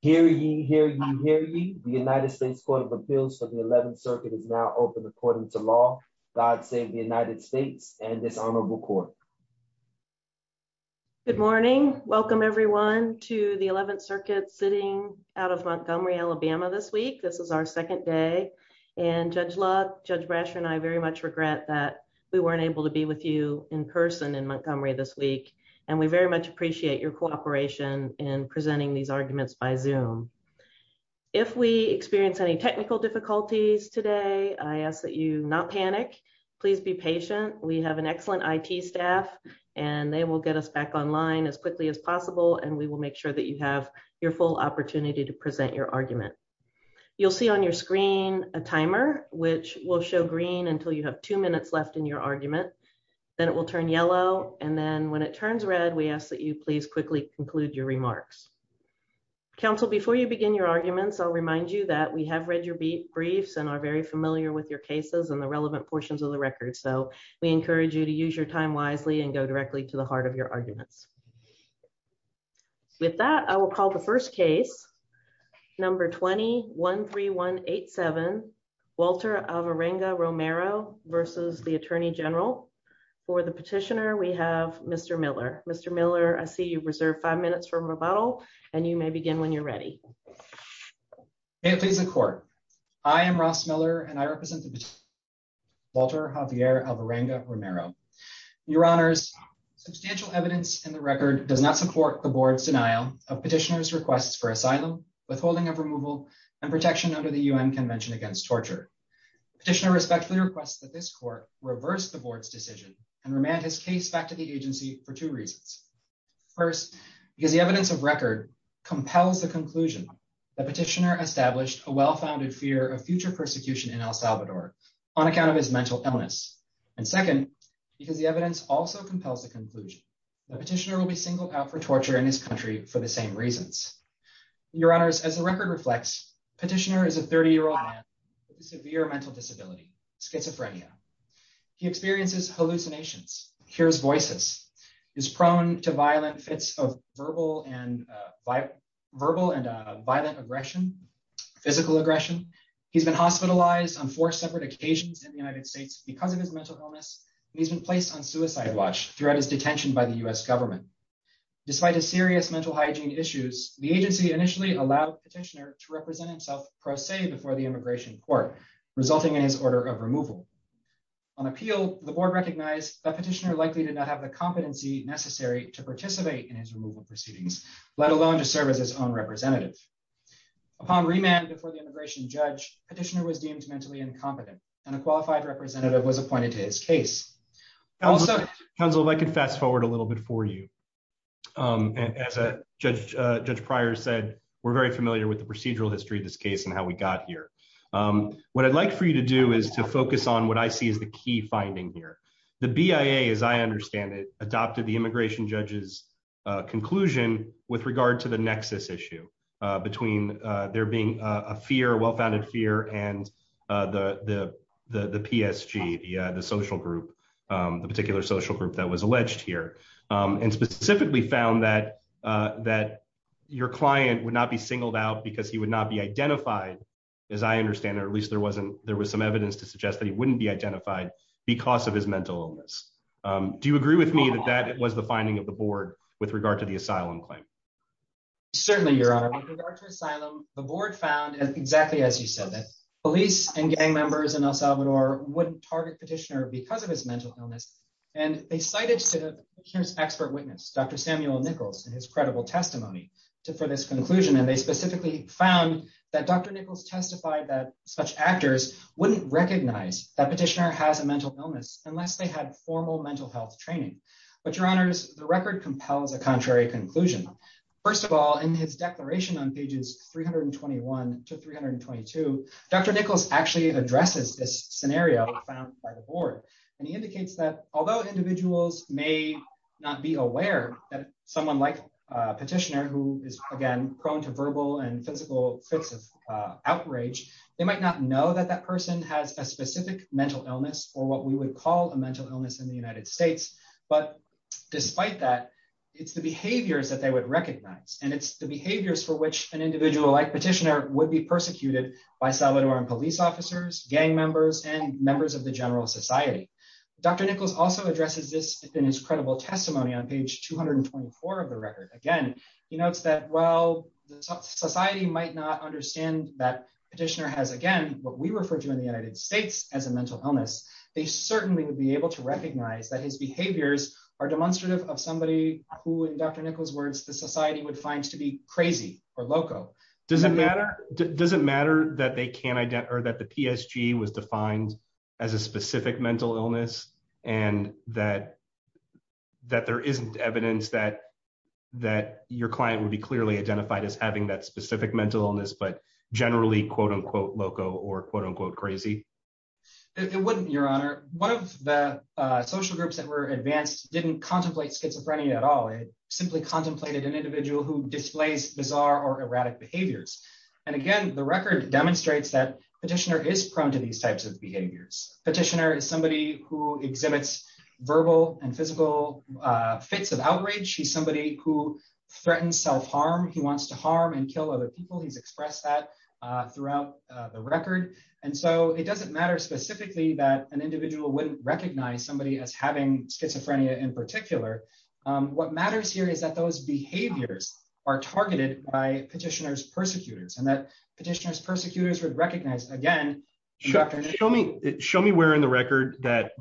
Hear ye, hear ye, hear ye. The United States Court of Appeals for the 11th Circuit is now open according to law. God save the United States and this honorable court. Good morning. Welcome everyone to the 11th Circuit sitting out of Montgomery, Alabama this week. This is our second day and Judge Love, Judge Brasher and I very much regret that we weren't able to be with you in person in Montgomery this week and we very much appreciate your cooperation in presenting these arguments by Zoom. If we experience any technical difficulties today, I ask that you not panic. Please be patient. We have an excellent IT staff and they will get us back online as quickly as possible and we will make sure that you have your full opportunity to present your argument. You'll see on your screen a timer which will show green until you have two minutes left in your argument. Then it will turn yellow and then when it turns red, we ask that you please quickly conclude your remarks. Counsel, before you begin your arguments, I'll remind you that we have read your briefs and are very familiar with your cases and the relevant portions of the record, so we encourage you to use your time wisely and go directly to the heart of your arguments. With that, I will call the first case, number 20-13187, Walter Avarenga Romero v. U.S. Attorney General. For the petitioner, we have Mr. Miller. Mr. Miller, I see you've reserved five minutes for rebuttal and you may begin when you're ready. May it please the court. I am Ross Miller and I represent the petitioner, Walter Javier Avarenga Romero. Your honors, substantial evidence in the record does not support the board's denial of petitioner's requests for asylum, withholding of removal, and protection under the UN Convention Against Torture. The petitioner respectfully requests that this court reverse the board's and remand his case back to the agency for two reasons. First, because the evidence of record compels the conclusion that the petitioner established a well-founded fear of future persecution in El Salvador on account of his mental illness. And second, because the evidence also compels the conclusion that the petitioner will be singled out for torture in his country for the same reasons. Your honors, as the record reflects, the petitioner is a 30-year-old man with a severe mental disability, schizophrenia. He experiences hallucinations, hears voices, is prone to violent fits of verbal and violent aggression, physical aggression. He's been hospitalized on four separate occasions in the United States because of his mental illness, and he's been placed on suicide watch throughout his detention by the U.S. government. Despite his serious mental hygiene issues, the agency initially allowed the petitioner to court, resulting in his order of removal. On appeal, the board recognized that petitioner likely did not have the competency necessary to participate in his removal proceedings, let alone to serve as his own representative. Upon remand before the immigration judge, petitioner was deemed mentally incompetent, and a qualified representative was appointed to his case. Counsel, if I could fast forward a little bit for you. As Judge Pryor said, we're very familiar with the procedural history of this case and how we got here. What I'd like for you to do is to focus on what I see as the key finding here. The BIA, as I understand it, adopted the immigration judge's conclusion with regard to the nexus issue between there being a fear, a well-founded fear, and the PSG, the social group, the particular social group that was alleged here, and specifically found that your client would not be singled out because he would not be identified, as I understand it, or at least there was some evidence to suggest that he wouldn't be identified because of his mental illness. Do you agree with me that that was the finding of the board with regard to the asylum claim? Certainly, Your Honor. With regard to asylum, the board found, exactly as you said, that police and gang members in El Salvador wouldn't target petitioner because of his mental illness, and they cited here's expert witness, Dr. Samuel Nichols, in his credible testimony for this conclusion, and they specifically found that Dr. Nichols testified that such actors wouldn't recognize that petitioner has a mental illness unless they had formal mental health training. But, Your Honors, the record compels a contrary conclusion. First of all, in his declaration on pages 321 to 322, Dr. Nichols actually addresses this scenario found by the board, and he indicates that although individuals may not be aware that someone like a petitioner who is, again, prone to verbal and physical fits of outrage, they might not know that that person has a specific mental illness or what we would call a mental illness in the United States, but despite that, it's the behaviors that they would recognize, and it's the behaviors for which an individual like petitioner would be persecuted by Salvadoran police officers, gang members, and members of the general society. Dr. Nichols also addresses this in his credible testimony on page 224 of the record. Again, he notes that while society might not understand that petitioner has, again, what we refer to in the United States as a mental illness, they certainly would be able to recognize that his behaviors are demonstrative of somebody who, in Dr. Nichols' words, the society would find to be crazy or loco. Does it matter that the PSG was defined as a specific mental illness and that there isn't evidence that your client would be clearly identified as having that specific mental illness but generally quote-unquote loco or quote-unquote crazy? It wouldn't, Your Honor. One of the social groups that were advanced didn't contemplate schizophrenia at all. It simply contemplated an individual who displays bizarre or erratic behaviors. Again, the record demonstrates that petitioner is prone to these types of behaviors. Petitioner is somebody who exhibits verbal and physical fits of outrage. He's somebody who threatens self-harm. He wants to harm and kill other people. He's expressed that throughout the record. It doesn't matter specifically that an individual wouldn't recognize somebody as having schizophrenia in particular. What matters here is that those behaviors are targeted by petitioner's persecutors and that petitioner's persecutors would recognize again. Show me where in the record that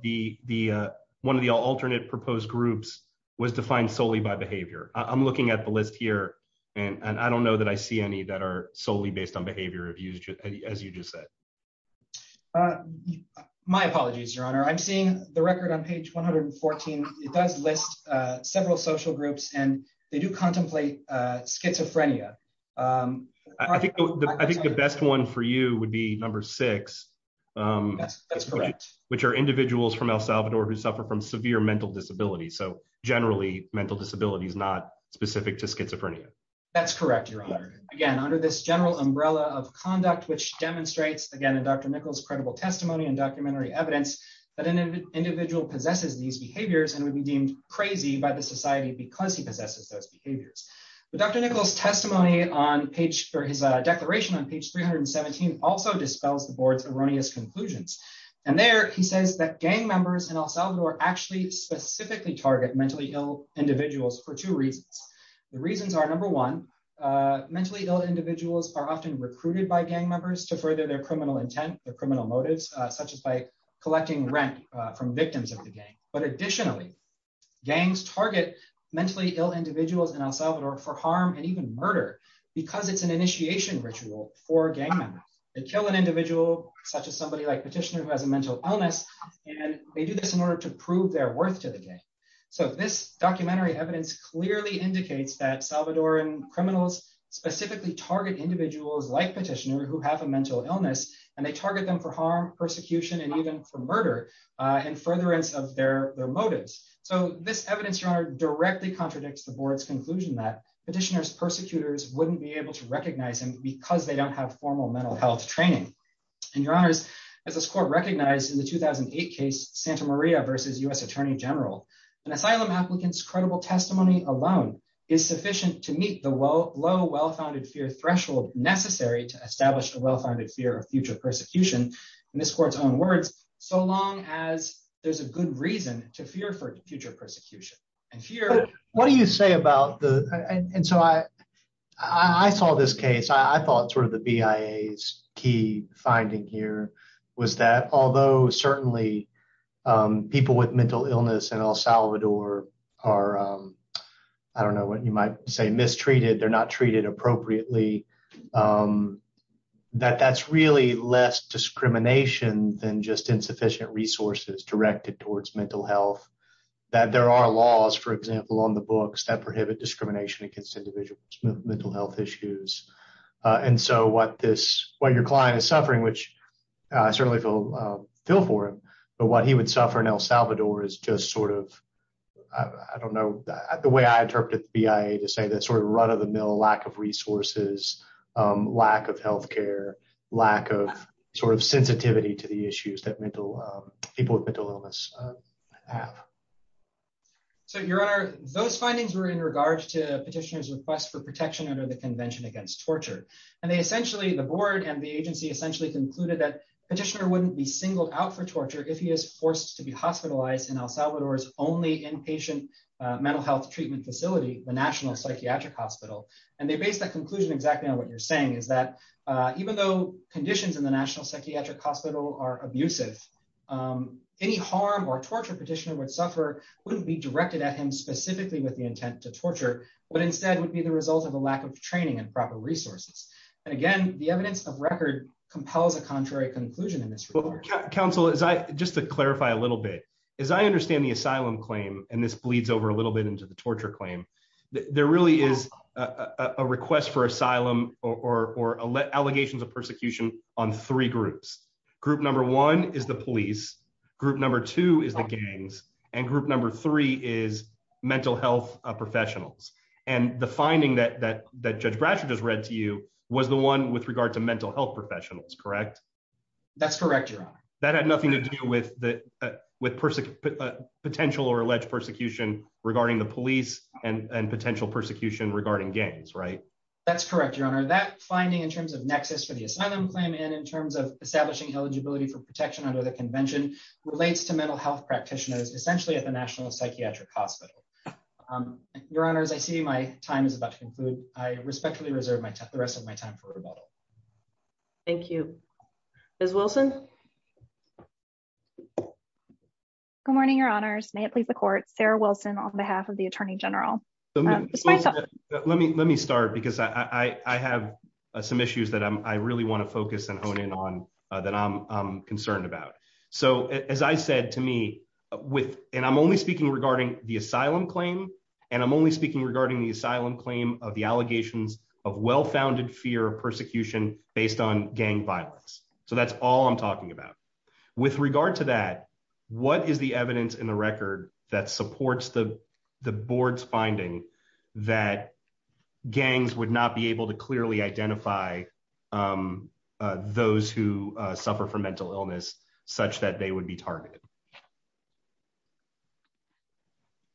one of the alternate proposed groups was defined solely by behavior. I'm looking at the list here and I don't know that I see any that are solely based on behavior as you just said. My apologies, Your Honor. I'm seeing the record on page 114. It does list several social groups and they do contemplate schizophrenia. I think the best one for you would be number six. That's correct. Which are individuals from El Salvador who suffer from severe mental disability. So generally mental disability is not specific to schizophrenia. That's correct, again under this general umbrella of conduct which demonstrates again in Dr. Nichols credible testimony and documentary evidence that an individual possesses these behaviors and would be deemed crazy by the society because he possesses those behaviors. But Dr. Nichols testimony on page for his declaration on page 317 also dispels the board's erroneous conclusions. And there he says that gang members in El Salvador actually specifically target mentally ill individuals for two reasons. The reasons are number one mentally ill individuals are often recruited by gang members to further their criminal intent or criminal motives such as by collecting rent from victims of the gang. But additionally gangs target mentally ill individuals in El Salvador for harm and even murder because it's an initiation ritual for gang members. They kill an individual such as somebody like Petitioner who has a mental illness and they do this in order to prove their clearly indicates that Salvadoran criminals specifically target individuals like Petitioner who have a mental illness and they target them for harm persecution and even for murder in furtherance of their motives. So this evidence your honor directly contradicts the board's conclusion that Petitioner's persecutors wouldn't be able to recognize him because they don't have formal mental health training. And your honors as this court recognized in the 2008 case Santa and asylum applicants credible testimony alone is sufficient to meet the low well-founded fear threshold necessary to establish a well-founded fear of future persecution. And this court's own words so long as there's a good reason to fear for future persecution. And fear what do you say about the and so I I saw this case I thought sort of the BIA's finding here was that although certainly people with mental illness in El Salvador are I don't know what you might say mistreated they're not treated appropriately that that's really less discrimination than just insufficient resources directed towards mental health that there are laws for example on the books that prohibit discrimination against individuals mental health issues. And so what this what your client is suffering which I certainly feel feel for him but what he would suffer in El Salvador is just sort of I don't know the way I interpreted the BIA to say that sort of run-of-the-mill lack of resources lack of health care lack of sort of sensitivity to the issues that mental people with mental illness have. So your honor those findings were in regards to petitioner's request for protection under the convention against torture. And they essentially the board and the agency essentially concluded that petitioner wouldn't be singled out for torture if he is forced to be hospitalized in El Salvador's only inpatient mental health treatment facility the National Psychiatric Hospital. And they based that conclusion exactly on what you're saying is that even though conditions in the National Psychiatric Hospital are abusive any harm or torture petitioner would suffer wouldn't be directed at him specifically with the intent to torture but instead would be the result of a lack of training and proper resources. And again the evidence of record compels a contrary conclusion in this report. Counsel as I just to clarify a little bit as I understand the asylum claim and this bleeds over a little bit into the torture claim there really is a a request for asylum or or allegations of persecution on three groups. Group number one is the police, group number two is the gangs, and group number three is mental health professionals. And the finding that that that Judge Bratcher just read to you was the one with regard to mental health professionals correct? That's correct your honor. That had nothing to do with with potential or alleged persecution regarding the police and potential persecution regarding gangs right? That's correct your honor. That finding in terms of nexus for the asylum claim and in terms of establishing eligibility for protection under the convention relates to mental health practitioners essentially at the National Psychiatric Hospital. Your honors I see my time is about to conclude. I respectfully reserve the rest of my time for rebuttal. Thank you. Ms. Wilson. Good morning your honors. May it please the court Sarah Wilson on behalf of the Attorney General. Let me let me start because I I have some issues that I really want to focus and hone in on that I'm concerned about. So as I said to me with and I'm only speaking regarding the asylum claim and I'm only speaking regarding the asylum claim of the allegations of well-founded fear of what is the evidence in the record that supports the the board's finding that gangs would not be able to clearly identify those who suffer from mental illness such that they would be targeted.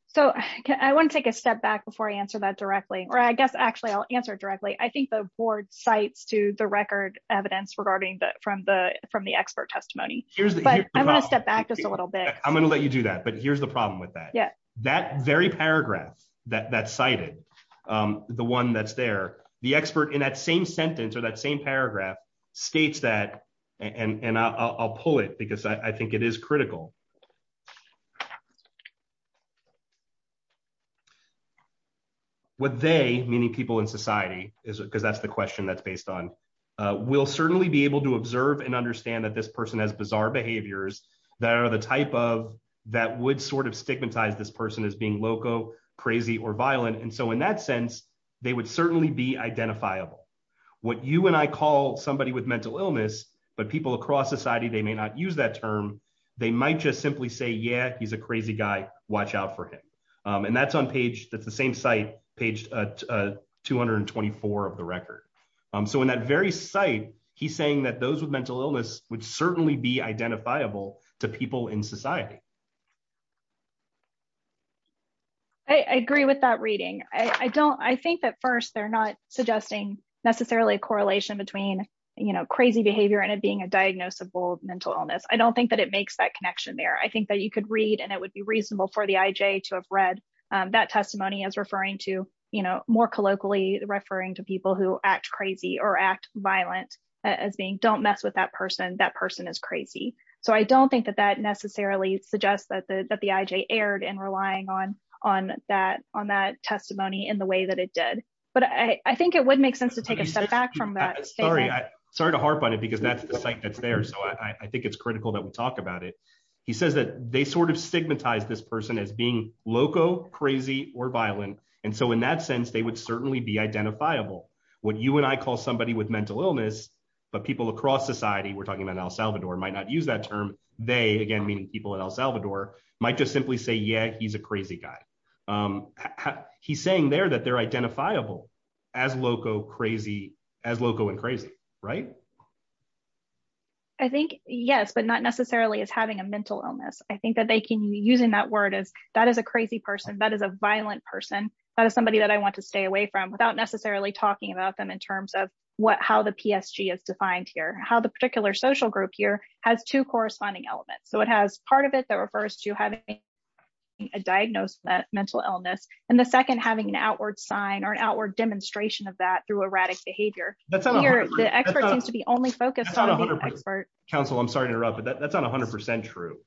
So I want to take a step back before I answer that directly or I guess actually I'll answer directly. I think the board cites to the record evidence regarding the from the expert testimony but I'm going to step back just a little bit. I'm going to let you do that but here's the problem with that. Yeah that very paragraph that that's cited the one that's there the expert in that same sentence or that same paragraph states that and and I'll pull it because I think it is critical. What they meaning people in society is because that's the question that's based on we'll certainly be able to observe and understand that this person has bizarre behaviors that are the type of that would sort of stigmatize this person as being loco crazy or violent and so in that sense they would certainly be identifiable. What you and I call somebody with mental illness but people across society they may not use that term they might just simply say yeah he's a crazy guy watch out for him and that's on page that's the same site page 224 of the record. So in that very site he's saying that those with mental illness would certainly be identifiable to people in society. I agree with that reading. I don't I think that first they're not suggesting necessarily a correlation between you know crazy behavior and it being a diagnosable mental illness. I don't think that it makes that connection there. I think that you could read and it would be reasonable for IJ to have read that testimony as referring to you know more colloquially referring to people who act crazy or act violent as being don't mess with that person that person is crazy. So I don't think that that necessarily suggests that the IJ erred in relying on that testimony in the way that it did. But I think it would make sense to take a step back from that. Sorry to harp on it because that's the site that's there so I think it's critical that we talk about it. He says that they sort of stigmatize this person as being loco crazy or violent and so in that sense they would certainly be identifiable. What you and I call somebody with mental illness but people across society we're talking about El Salvador might not use that term they again meaning people in El Salvador might just simply say yeah he's a crazy guy. He's saying there that they're identifiable as loco crazy as loco and crazy right? I think yes but not necessarily as having a mental illness. I think that they can be using that word as that is a crazy person. That is a violent person. That is somebody that I want to stay away from without necessarily talking about them in terms of what how the PSG is defined here. How the particular social group here has two corresponding elements. So it has part of it that refers to having a diagnosed mental illness and the second having an outward sign or an outward demonstration of that through erratic behavior. The expert seems to be only focused on the expert. Council I'm sorry to interrupt but that's not 100% true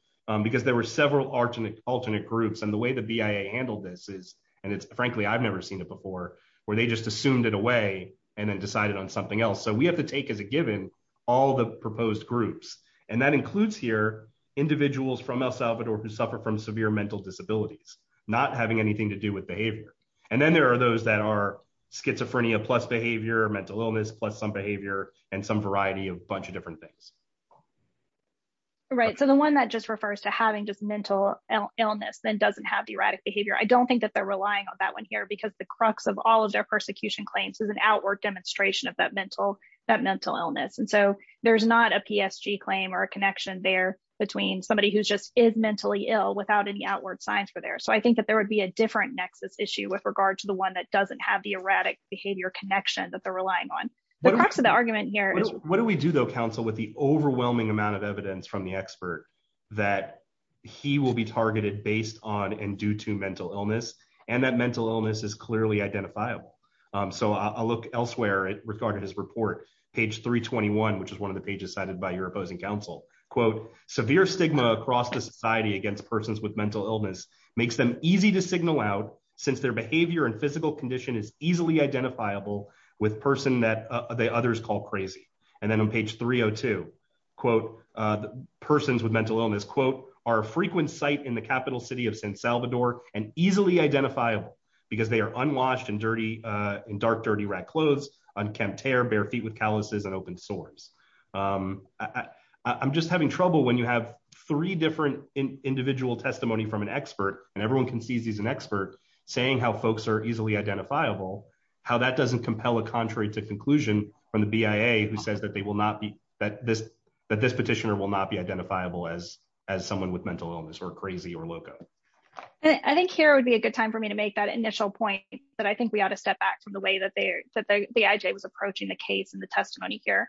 because there were several alternate groups and the way the BIA handled this is and it's frankly I've never seen it before where they just assumed it away and then decided on something else. So we have to take as a given all the proposed groups and that includes here individuals from El Salvador who suffer from severe mental disabilities not having anything to do with behavior and then there are those that are schizophrenia plus behavior mental illness plus some behavior and some variety of bunch of different things. Right so the one that just refers to having just mental illness then doesn't have the erratic behavior. I don't think that they're relying on that one here because the crux of all of their persecution claims is an outward demonstration of that mental illness and so there's not a PSG claim or a connection there between somebody who's just is mentally ill without any outward signs for there. So I think that there would be a different nexus issue with to the one that doesn't have the erratic behavior connection that they're relying on. The crux of the argument here is what do we do though counsel with the overwhelming amount of evidence from the expert that he will be targeted based on and due to mental illness and that mental illness is clearly identifiable. So I'll look elsewhere it regarded his report page 321 which is one of the pages cited by your opposing counsel quote severe stigma across the society against persons with mental illness makes them easy to signal out since their behavior and physical condition is easily identifiable with person that others call crazy. And then on page 302 quote the persons with mental illness quote are a frequent site in the capital city of San Salvador and easily identifiable because they are unwashed and dirty in dark dirty red clothes unkempt hair bare feet with calluses and open sores. I'm just having trouble when you have three different individual testimony from an expert and everyone can see he's an expert saying how folks are easily identifiable how that doesn't compel a contrary to conclusion from the BIA who says that they will not be that this that this petitioner will not be identifiable as as someone with mental illness or crazy or loco. I think here would be a good time for me to make that initial point that I think we ought to step back from the way that they that the IJ was approaching the case and the testimony here.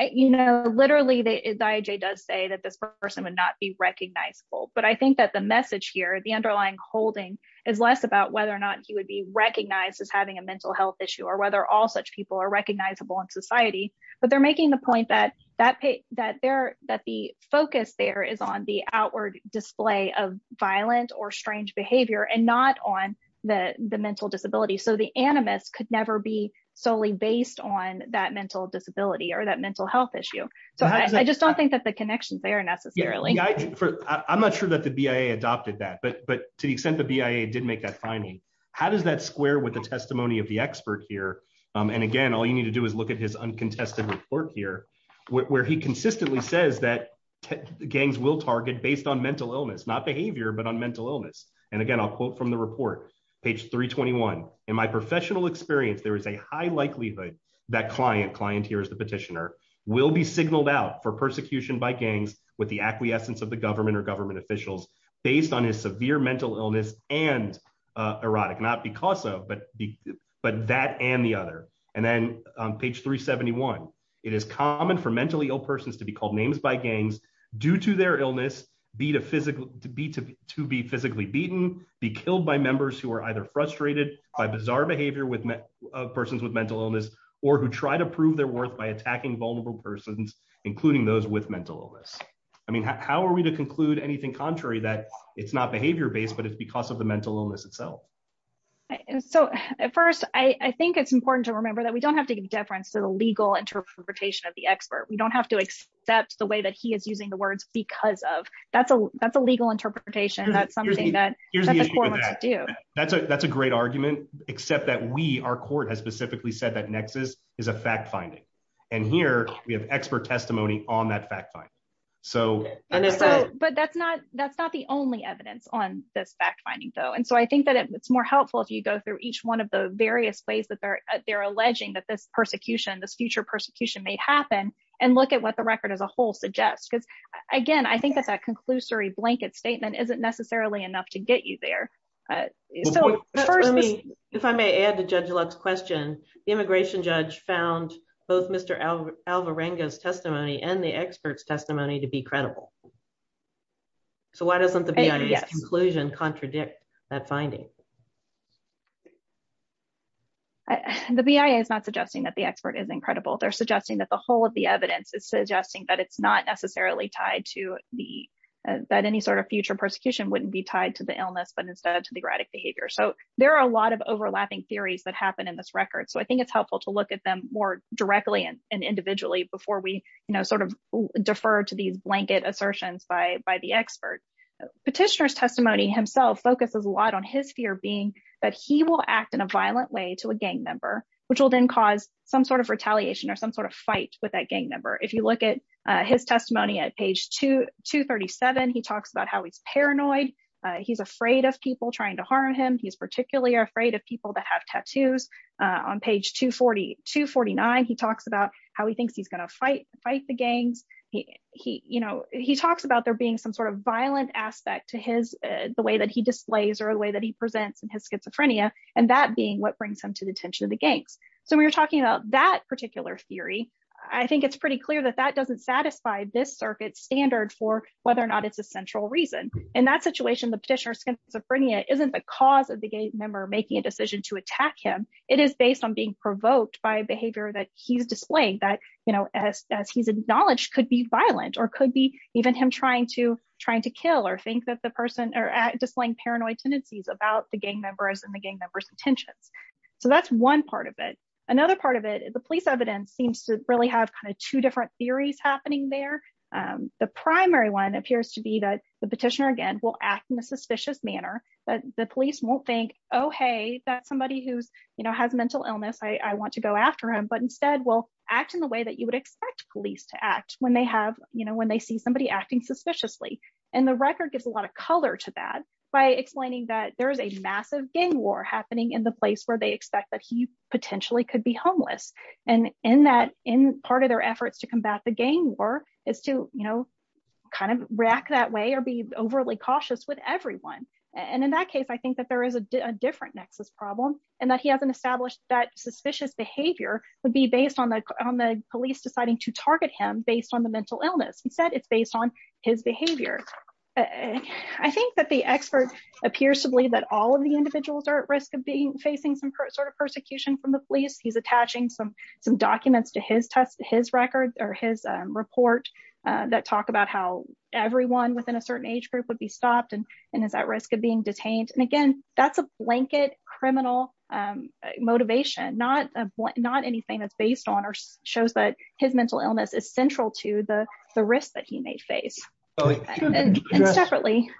You know literally the IJ does say that this person would not be recognizable but I think that the message here the underlying holding is less about whether or not he would be recognized as having a mental health issue or whether all such people are recognizable in society but they're making the point that that that they're that the focus there is on the outward display of violent or strange behavior and not on the the mental disability so the animus could never be solely based on that mental disability or that mental health issue so I just don't think that the connections there necessarily yeah I'm not sure that the BIA adopted that but but to the extent the BIA did make that finding how does that square with the testimony of the expert here and again all you need to do is look at his uncontested report here where he consistently says that gangs will target based on mental illness not behavior but on mental illness and again I'll quote from the report page 321 in my professional experience there is a high likelihood that client clienteers the petitioner will be signaled out for persecution by gangs with the acquiescence of the government or government officials based on his severe mental illness and erotic not because of but but that and the other and then on page 371 it is common for mentally ill persons to be called names by gangs due to their illness be to physically to be to be physically beaten be killed by members who are either frustrated by bizarre behavior with persons with mental illness or who try to prove their worth by attacking vulnerable persons including those with mental illness I mean how are we to conclude anything contrary that it's not behavior based but it's because of the mental illness itself so at first I I think it's important to remember that we don't have to give deference to the legal interpretation of the expert we don't have to accept the way that he is using the words because of that's a that's a legal interpretation that's something that here's what to do that's a that's a great argument except that we our court has specifically said that nexus is a fact finding and here we have expert testimony on that fact find so but that's not that's not the only evidence on this fact finding though and so I think that it's more helpful if you go through each one of the various ways that they're they're alleging that this persecution this future persecution may happen and look at what the record as a whole suggests because again I think that's a conclusory blanket statement isn't necessarily enough to get you there uh so first let me if I may add to Judge Luck's question the immigration judge found both Mr. Alvarenga's testimony and the expert's testimony to be credible so why doesn't the BIA's conclusion contradict that finding the BIA is not suggesting that the expert is incredible they're suggesting that the whole of the evidence is suggesting that it's not necessarily tied to the that any sort of future persecution wouldn't be tied to the illness but instead to the erratic behavior so there are a lot of overlapping theories that happen in this record so I think it's helpful to look at them more directly and individually before we you know sort of defer to these blanket assertions by by the expert petitioner's testimony himself focuses a lot on his fear being that he will act in a violent way to a gang member which will then cause some sort of retaliation or some sort of fight with that gang member if you look at his testimony at page 237 he talks about how he's paranoid he's afraid of people trying to harm him he's particularly afraid of people that have tattoos on page 240 249 he talks about how he thinks he's going to fight fight the gangs he he you know he talks about there being some sort of violent aspect to his the way that he displays or the way that he presents in his schizophrenia and that being what brings him to the attention of the gangs so we were talking about that particular theory I think it's pretty clear that that doesn't satisfy this circuit standard for whether or not it's a central reason in that situation the petitioner's schizophrenia isn't the cause of the gay member making a decision to attack him it is based on being provoked by behavior that he's displaying that you know as as he's acknowledged could be violent or could be even him trying to trying to kill or think that the person are displaying paranoid tendencies about the gang members and the gang members intentions so that's one part of it another part of it the police evidence seems to really have two different theories happening there the primary one appears to be that the petitioner again will act in a suspicious manner but the police won't think oh hey that's somebody who's you know has mental illness I want to go after him but instead will act in the way that you would expect police to act when they have you know when they see somebody acting suspiciously and the record gives a lot of color to that by explaining that there is a massive gang war happening in the place they expect that he potentially could be homeless and in that in part of their efforts to combat the gang war is to you know kind of react that way or be overly cautious with everyone and in that case I think that there is a different nexus problem and that he hasn't established that suspicious behavior would be based on the on the police deciding to target him based on the mental illness instead it's based on his behavior I think that the expert appears to believe that all of the sort of persecution from the police he's attaching some some documents to his test his record or his report that talk about how everyone within a certain age group would be stopped and and is at risk of being detained and again that's a blanket criminal motivation not a not anything that's based on or shows that his mental illness is central to the the risk that he may face and separately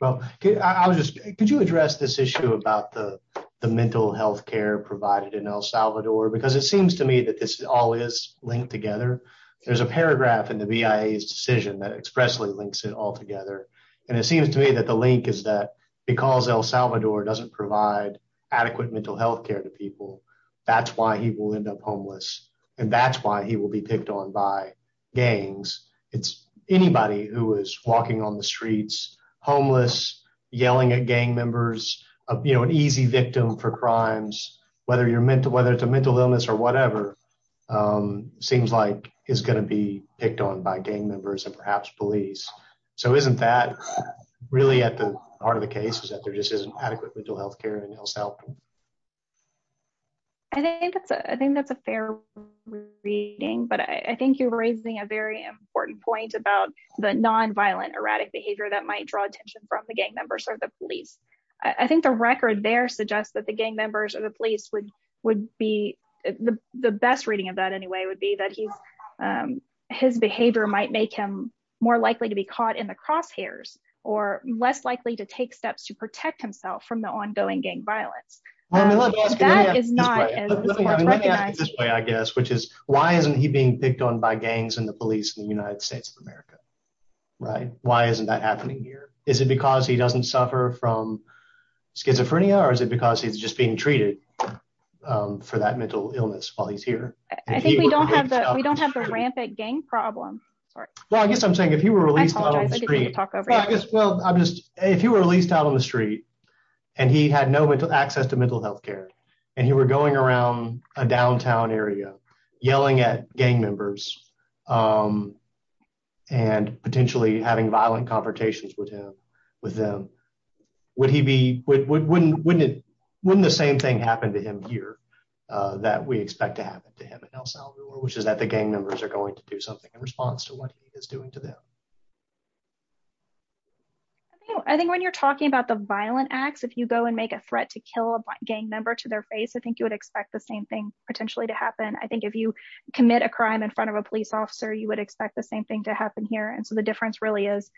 well I'll just could you address this issue about the the mental health care provided in El Salvador because it seems to me that this all is linked together there's a paragraph in the BIA's decision that expressly links it all together and it seems to me that the link is that because El Salvador doesn't provide adequate mental health care to people that's why people end up homeless and that's why he will be picked on by gangs it's anybody who is walking on the streets homeless yelling at gang members you know an easy victim for crimes whether you're mental whether it's a mental illness or whatever seems like is going to be picked on by gang members and perhaps police so isn't that really at the heart of the case is that there just isn't adequate mental health care in El Salvador? I think that's a I think that's a fair reading but I think you're raising a very important point about the non-violent erratic behavior that might draw attention from the gang members or the police I think the record there suggests that the gang members or the police would would be the the best reading of that anyway would be that he's um his behavior might make him more likely to be caught in the crosshairs or less likely to take steps to protect himself from the ongoing gang violence. Let me ask you this way I guess which is why isn't he being picked on by gangs and the police in the United States of America right why isn't that happening here is it because he doesn't suffer from schizophrenia or is it because he's just being treated um for that mental illness while he's here? I think we don't have that we don't have the rampant gang problem sorry well I guess I'm saying if you were released on the street well I'm just if you were released out on the street and he had no mental access to mental health care and you were going around a downtown area yelling at gang members um and potentially having violent confrontations with him with them would he be wouldn't wouldn't wouldn't the same thing happen to him here uh that we expect to happen to him in El Salvador which is that the gang members are going to do something in response to what he is doing to them I think I think when you're talking about the violent acts if you go and make a threat to kill a gang member to their face I think you would expect the same thing potentially to happen I think if you commit a crime in front of a police officer you would expect the same thing to happen here and so the difference really is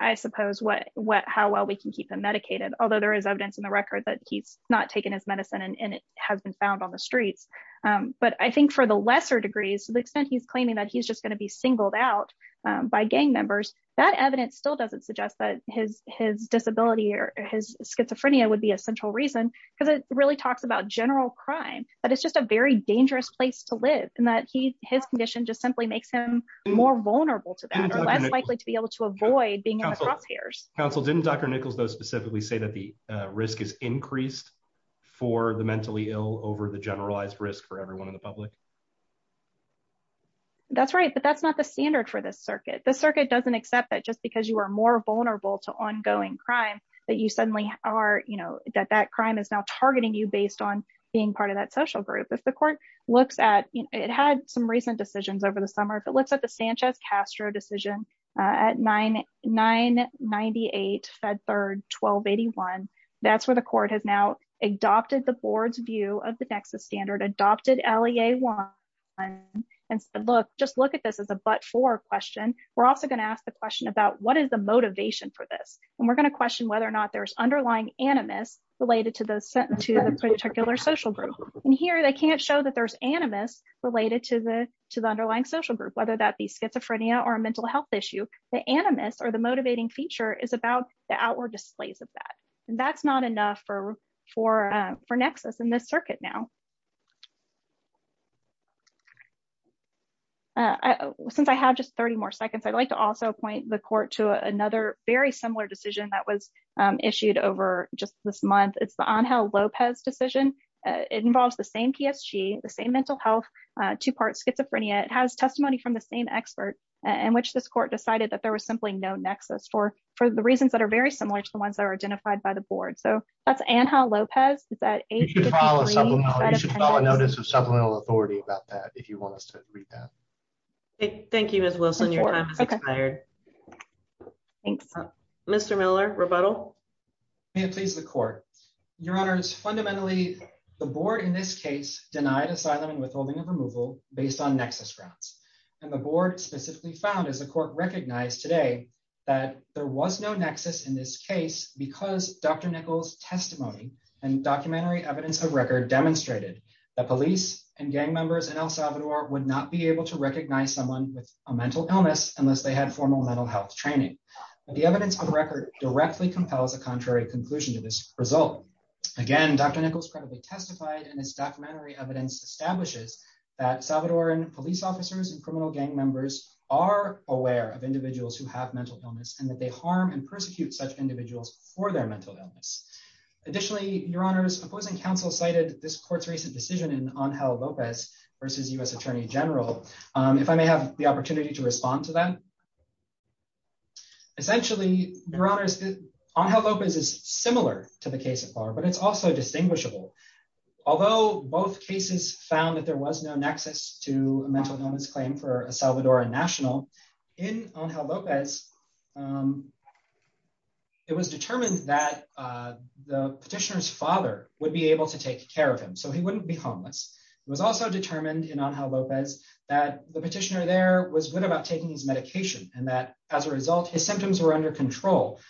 I suppose what what how well we can keep them medicated although there is evidence in the record that he's not taken his medicine and it has been found on the streets um but I think for the lesser degrees to the extent he's claiming that he's just going to be singled out by gang members that evidence still doesn't suggest that his his disability or his schizophrenia would be a central reason because it really talks about general crime that it's just a very dangerous place to live and that he his condition just simply makes him more vulnerable to that or less likely to be able to avoid being in the crosshairs council didn't dr nichols though specifically say that the risk is increased for the mentally ill over the not the standard for this circuit the circuit doesn't accept that just because you are more vulnerable to ongoing crime that you suddenly are you know that that crime is now targeting you based on being part of that social group if the court looks at it had some recent decisions over the summer if it looks at the sanchez castro decision uh at 9 9 98 fed third 12 81 that's where the court has now adopted the board's view of the nexus standard adopted lea1 and said look just look at this as a but for question we're also going to ask the question about what is the motivation for this and we're going to question whether or not there's underlying animus related to those sent to the particular social group and here they can't show that there's animus related to the to the underlying social group whether that be schizophrenia or a mental health issue the animus or the motivating feature is about the outward displays of that and that's not enough for for for nexus in this circuit now uh since i have just 30 more seconds i'd like to also point the court to another very similar decision that was issued over just this month it's the angel lopez decision it involves the same psg the same mental health uh two-part schizophrenia it has testimony from the same expert in which this court decided that there was simply no nexus for for the reasons that are very similar to the ones that are identified by the board so that's anha lopez is that you should follow notice of supplemental authority about that if you want us to read that thank you miss wilson your time has expired thanks mr miller rebuttal may it please the court your honors fundamentally the board in this case denied asylum and withholding of removal based on nexus grounds and the board specifically found as the court recognized today that there was no nexus in this case because dr nichols testimony and documentary evidence of record demonstrated that police and gang members in el salvador would not be able to recognize someone with a mental illness unless they had formal mental health training but the evidence of record directly compels a contrary conclusion to this result again dr nichols credibly testified and its documentary evidence establishes that salvadoran police officers and criminal gang members are aware of individuals who have mental illness and that they harm and persecute such individuals for their mental illness additionally your honors opposing counsel cited this court's recent decision in anha lopez versus u.s attorney general if i may have the opportunity to respond to that essentially your honors on how lopez is similar to the case of bar but it's also distinguishable although both cases found that there was no nexus to a mental illness claim for a salvadora national in on how lopez um it was determined that uh the petitioner's father would be able to take care of him so he wouldn't be homeless it was also determined in on how lopez that the petitioner there was good about taking his medication and that as a result his symptoms were under control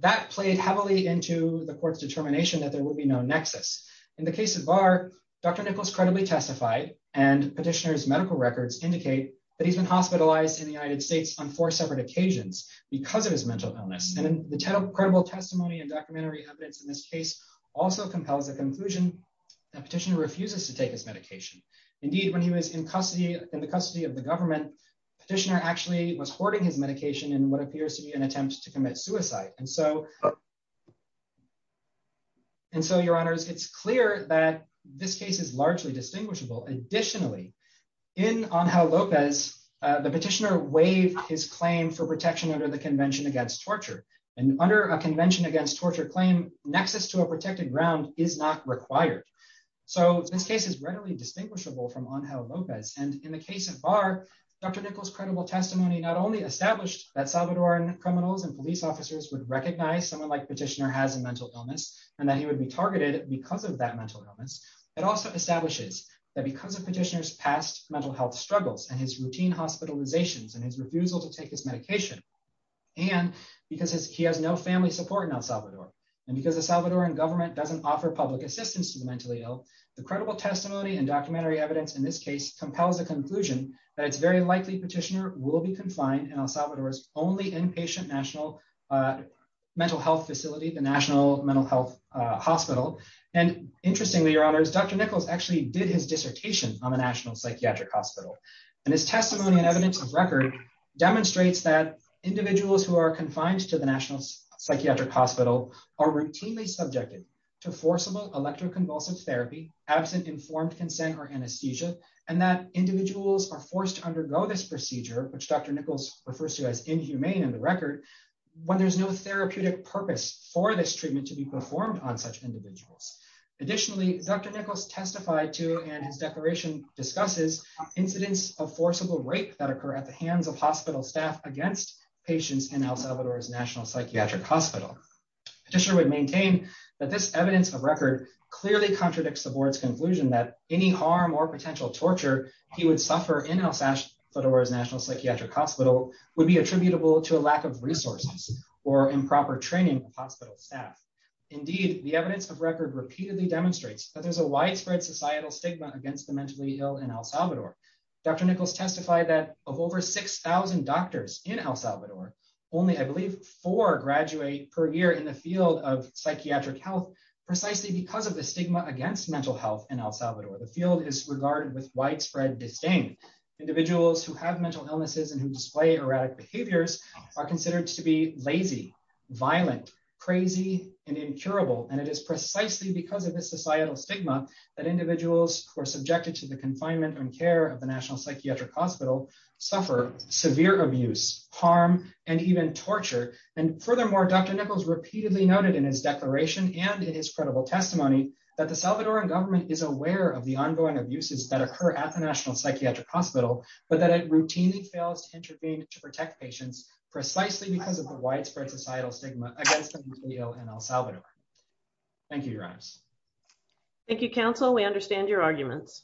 that played heavily into the court's determination that there would be no nexus in the case of bar dr nichols credibly testified and petitioner's medical records indicate that he's been hospitalized in the united states on four separate occasions because of his mental illness and the credible testimony and documentary evidence in this case also compels a conclusion that petitioner refuses to take his medication indeed when he was in custody in the custody of the government petitioner actually was hoarding his medication in what appears to be an attempt to commit suicide and so and so your honors it's clear that this case is largely distinguishable additionally in on how lopez uh the petitioner waived his claim for protection under the convention against torture and under a convention against torture claim nexus to a protected ground is not required so this case is readily distinguishable from on how lopez and in the case of bar dr nichols credible testimony not only established that salvadoran criminals and police officers would recognize someone like petitioner has a mental illness and that he would be targeted because of that mental illness it also establishes that because of petitioner's past mental health struggles and his routine hospitalizations and his refusal to take his medication and because he has no family support in el salvador and because the salvadoran government doesn't offer public assistance to the mentally ill the credible testimony and documentary evidence in this case compels a conclusion that it's very likely petitioner will be confined in el salvador's inpatient national mental health facility the national mental health hospital and interestingly your honors dr nichols actually did his dissertation on the national psychiatric hospital and his testimony and evidence of record demonstrates that individuals who are confined to the national psychiatric hospital are routinely subjected to forcible electroconvulsive therapy absent informed consent or anesthesia and that individuals are forced to undergo this in the record when there's no therapeutic purpose for this treatment to be performed on such individuals additionally dr nichols testified to and his declaration discusses incidents of forcible rape that occur at the hands of hospital staff against patients in el salvador's national psychiatric hospital petitioner would maintain that this evidence of record clearly contradicts the board's conclusion that any harm or potential torture he would suffer in el salvador's national psychiatric hospital would be attributable to a lack of resources or improper training of hospital staff indeed the evidence of record repeatedly demonstrates that there's a widespread societal stigma against the mentally ill in el salvador dr nichols testified that of over 6 000 doctors in el salvador only i believe four graduate per year in the field of psychiatric health precisely because of the stigma against mental health in el salvador the field is regarded with widespread disdain individuals who have mental illnesses and who display erratic behaviors are considered to be lazy violent crazy and incurable and it is precisely because of this societal stigma that individuals who are subjected to the confinement and care of the national psychiatric hospital suffer severe abuse harm and even torture and furthermore dr nichols repeatedly noted in his declaration and in his credible testimony that the salvadoran government is aware of the ongoing abuses that occur at the national psychiatric hospital but that it routinely fails to intervene to protect patients precisely because of the widespread societal stigma against the video and el salvador thank you your eyes thank you counsel we understand your arguments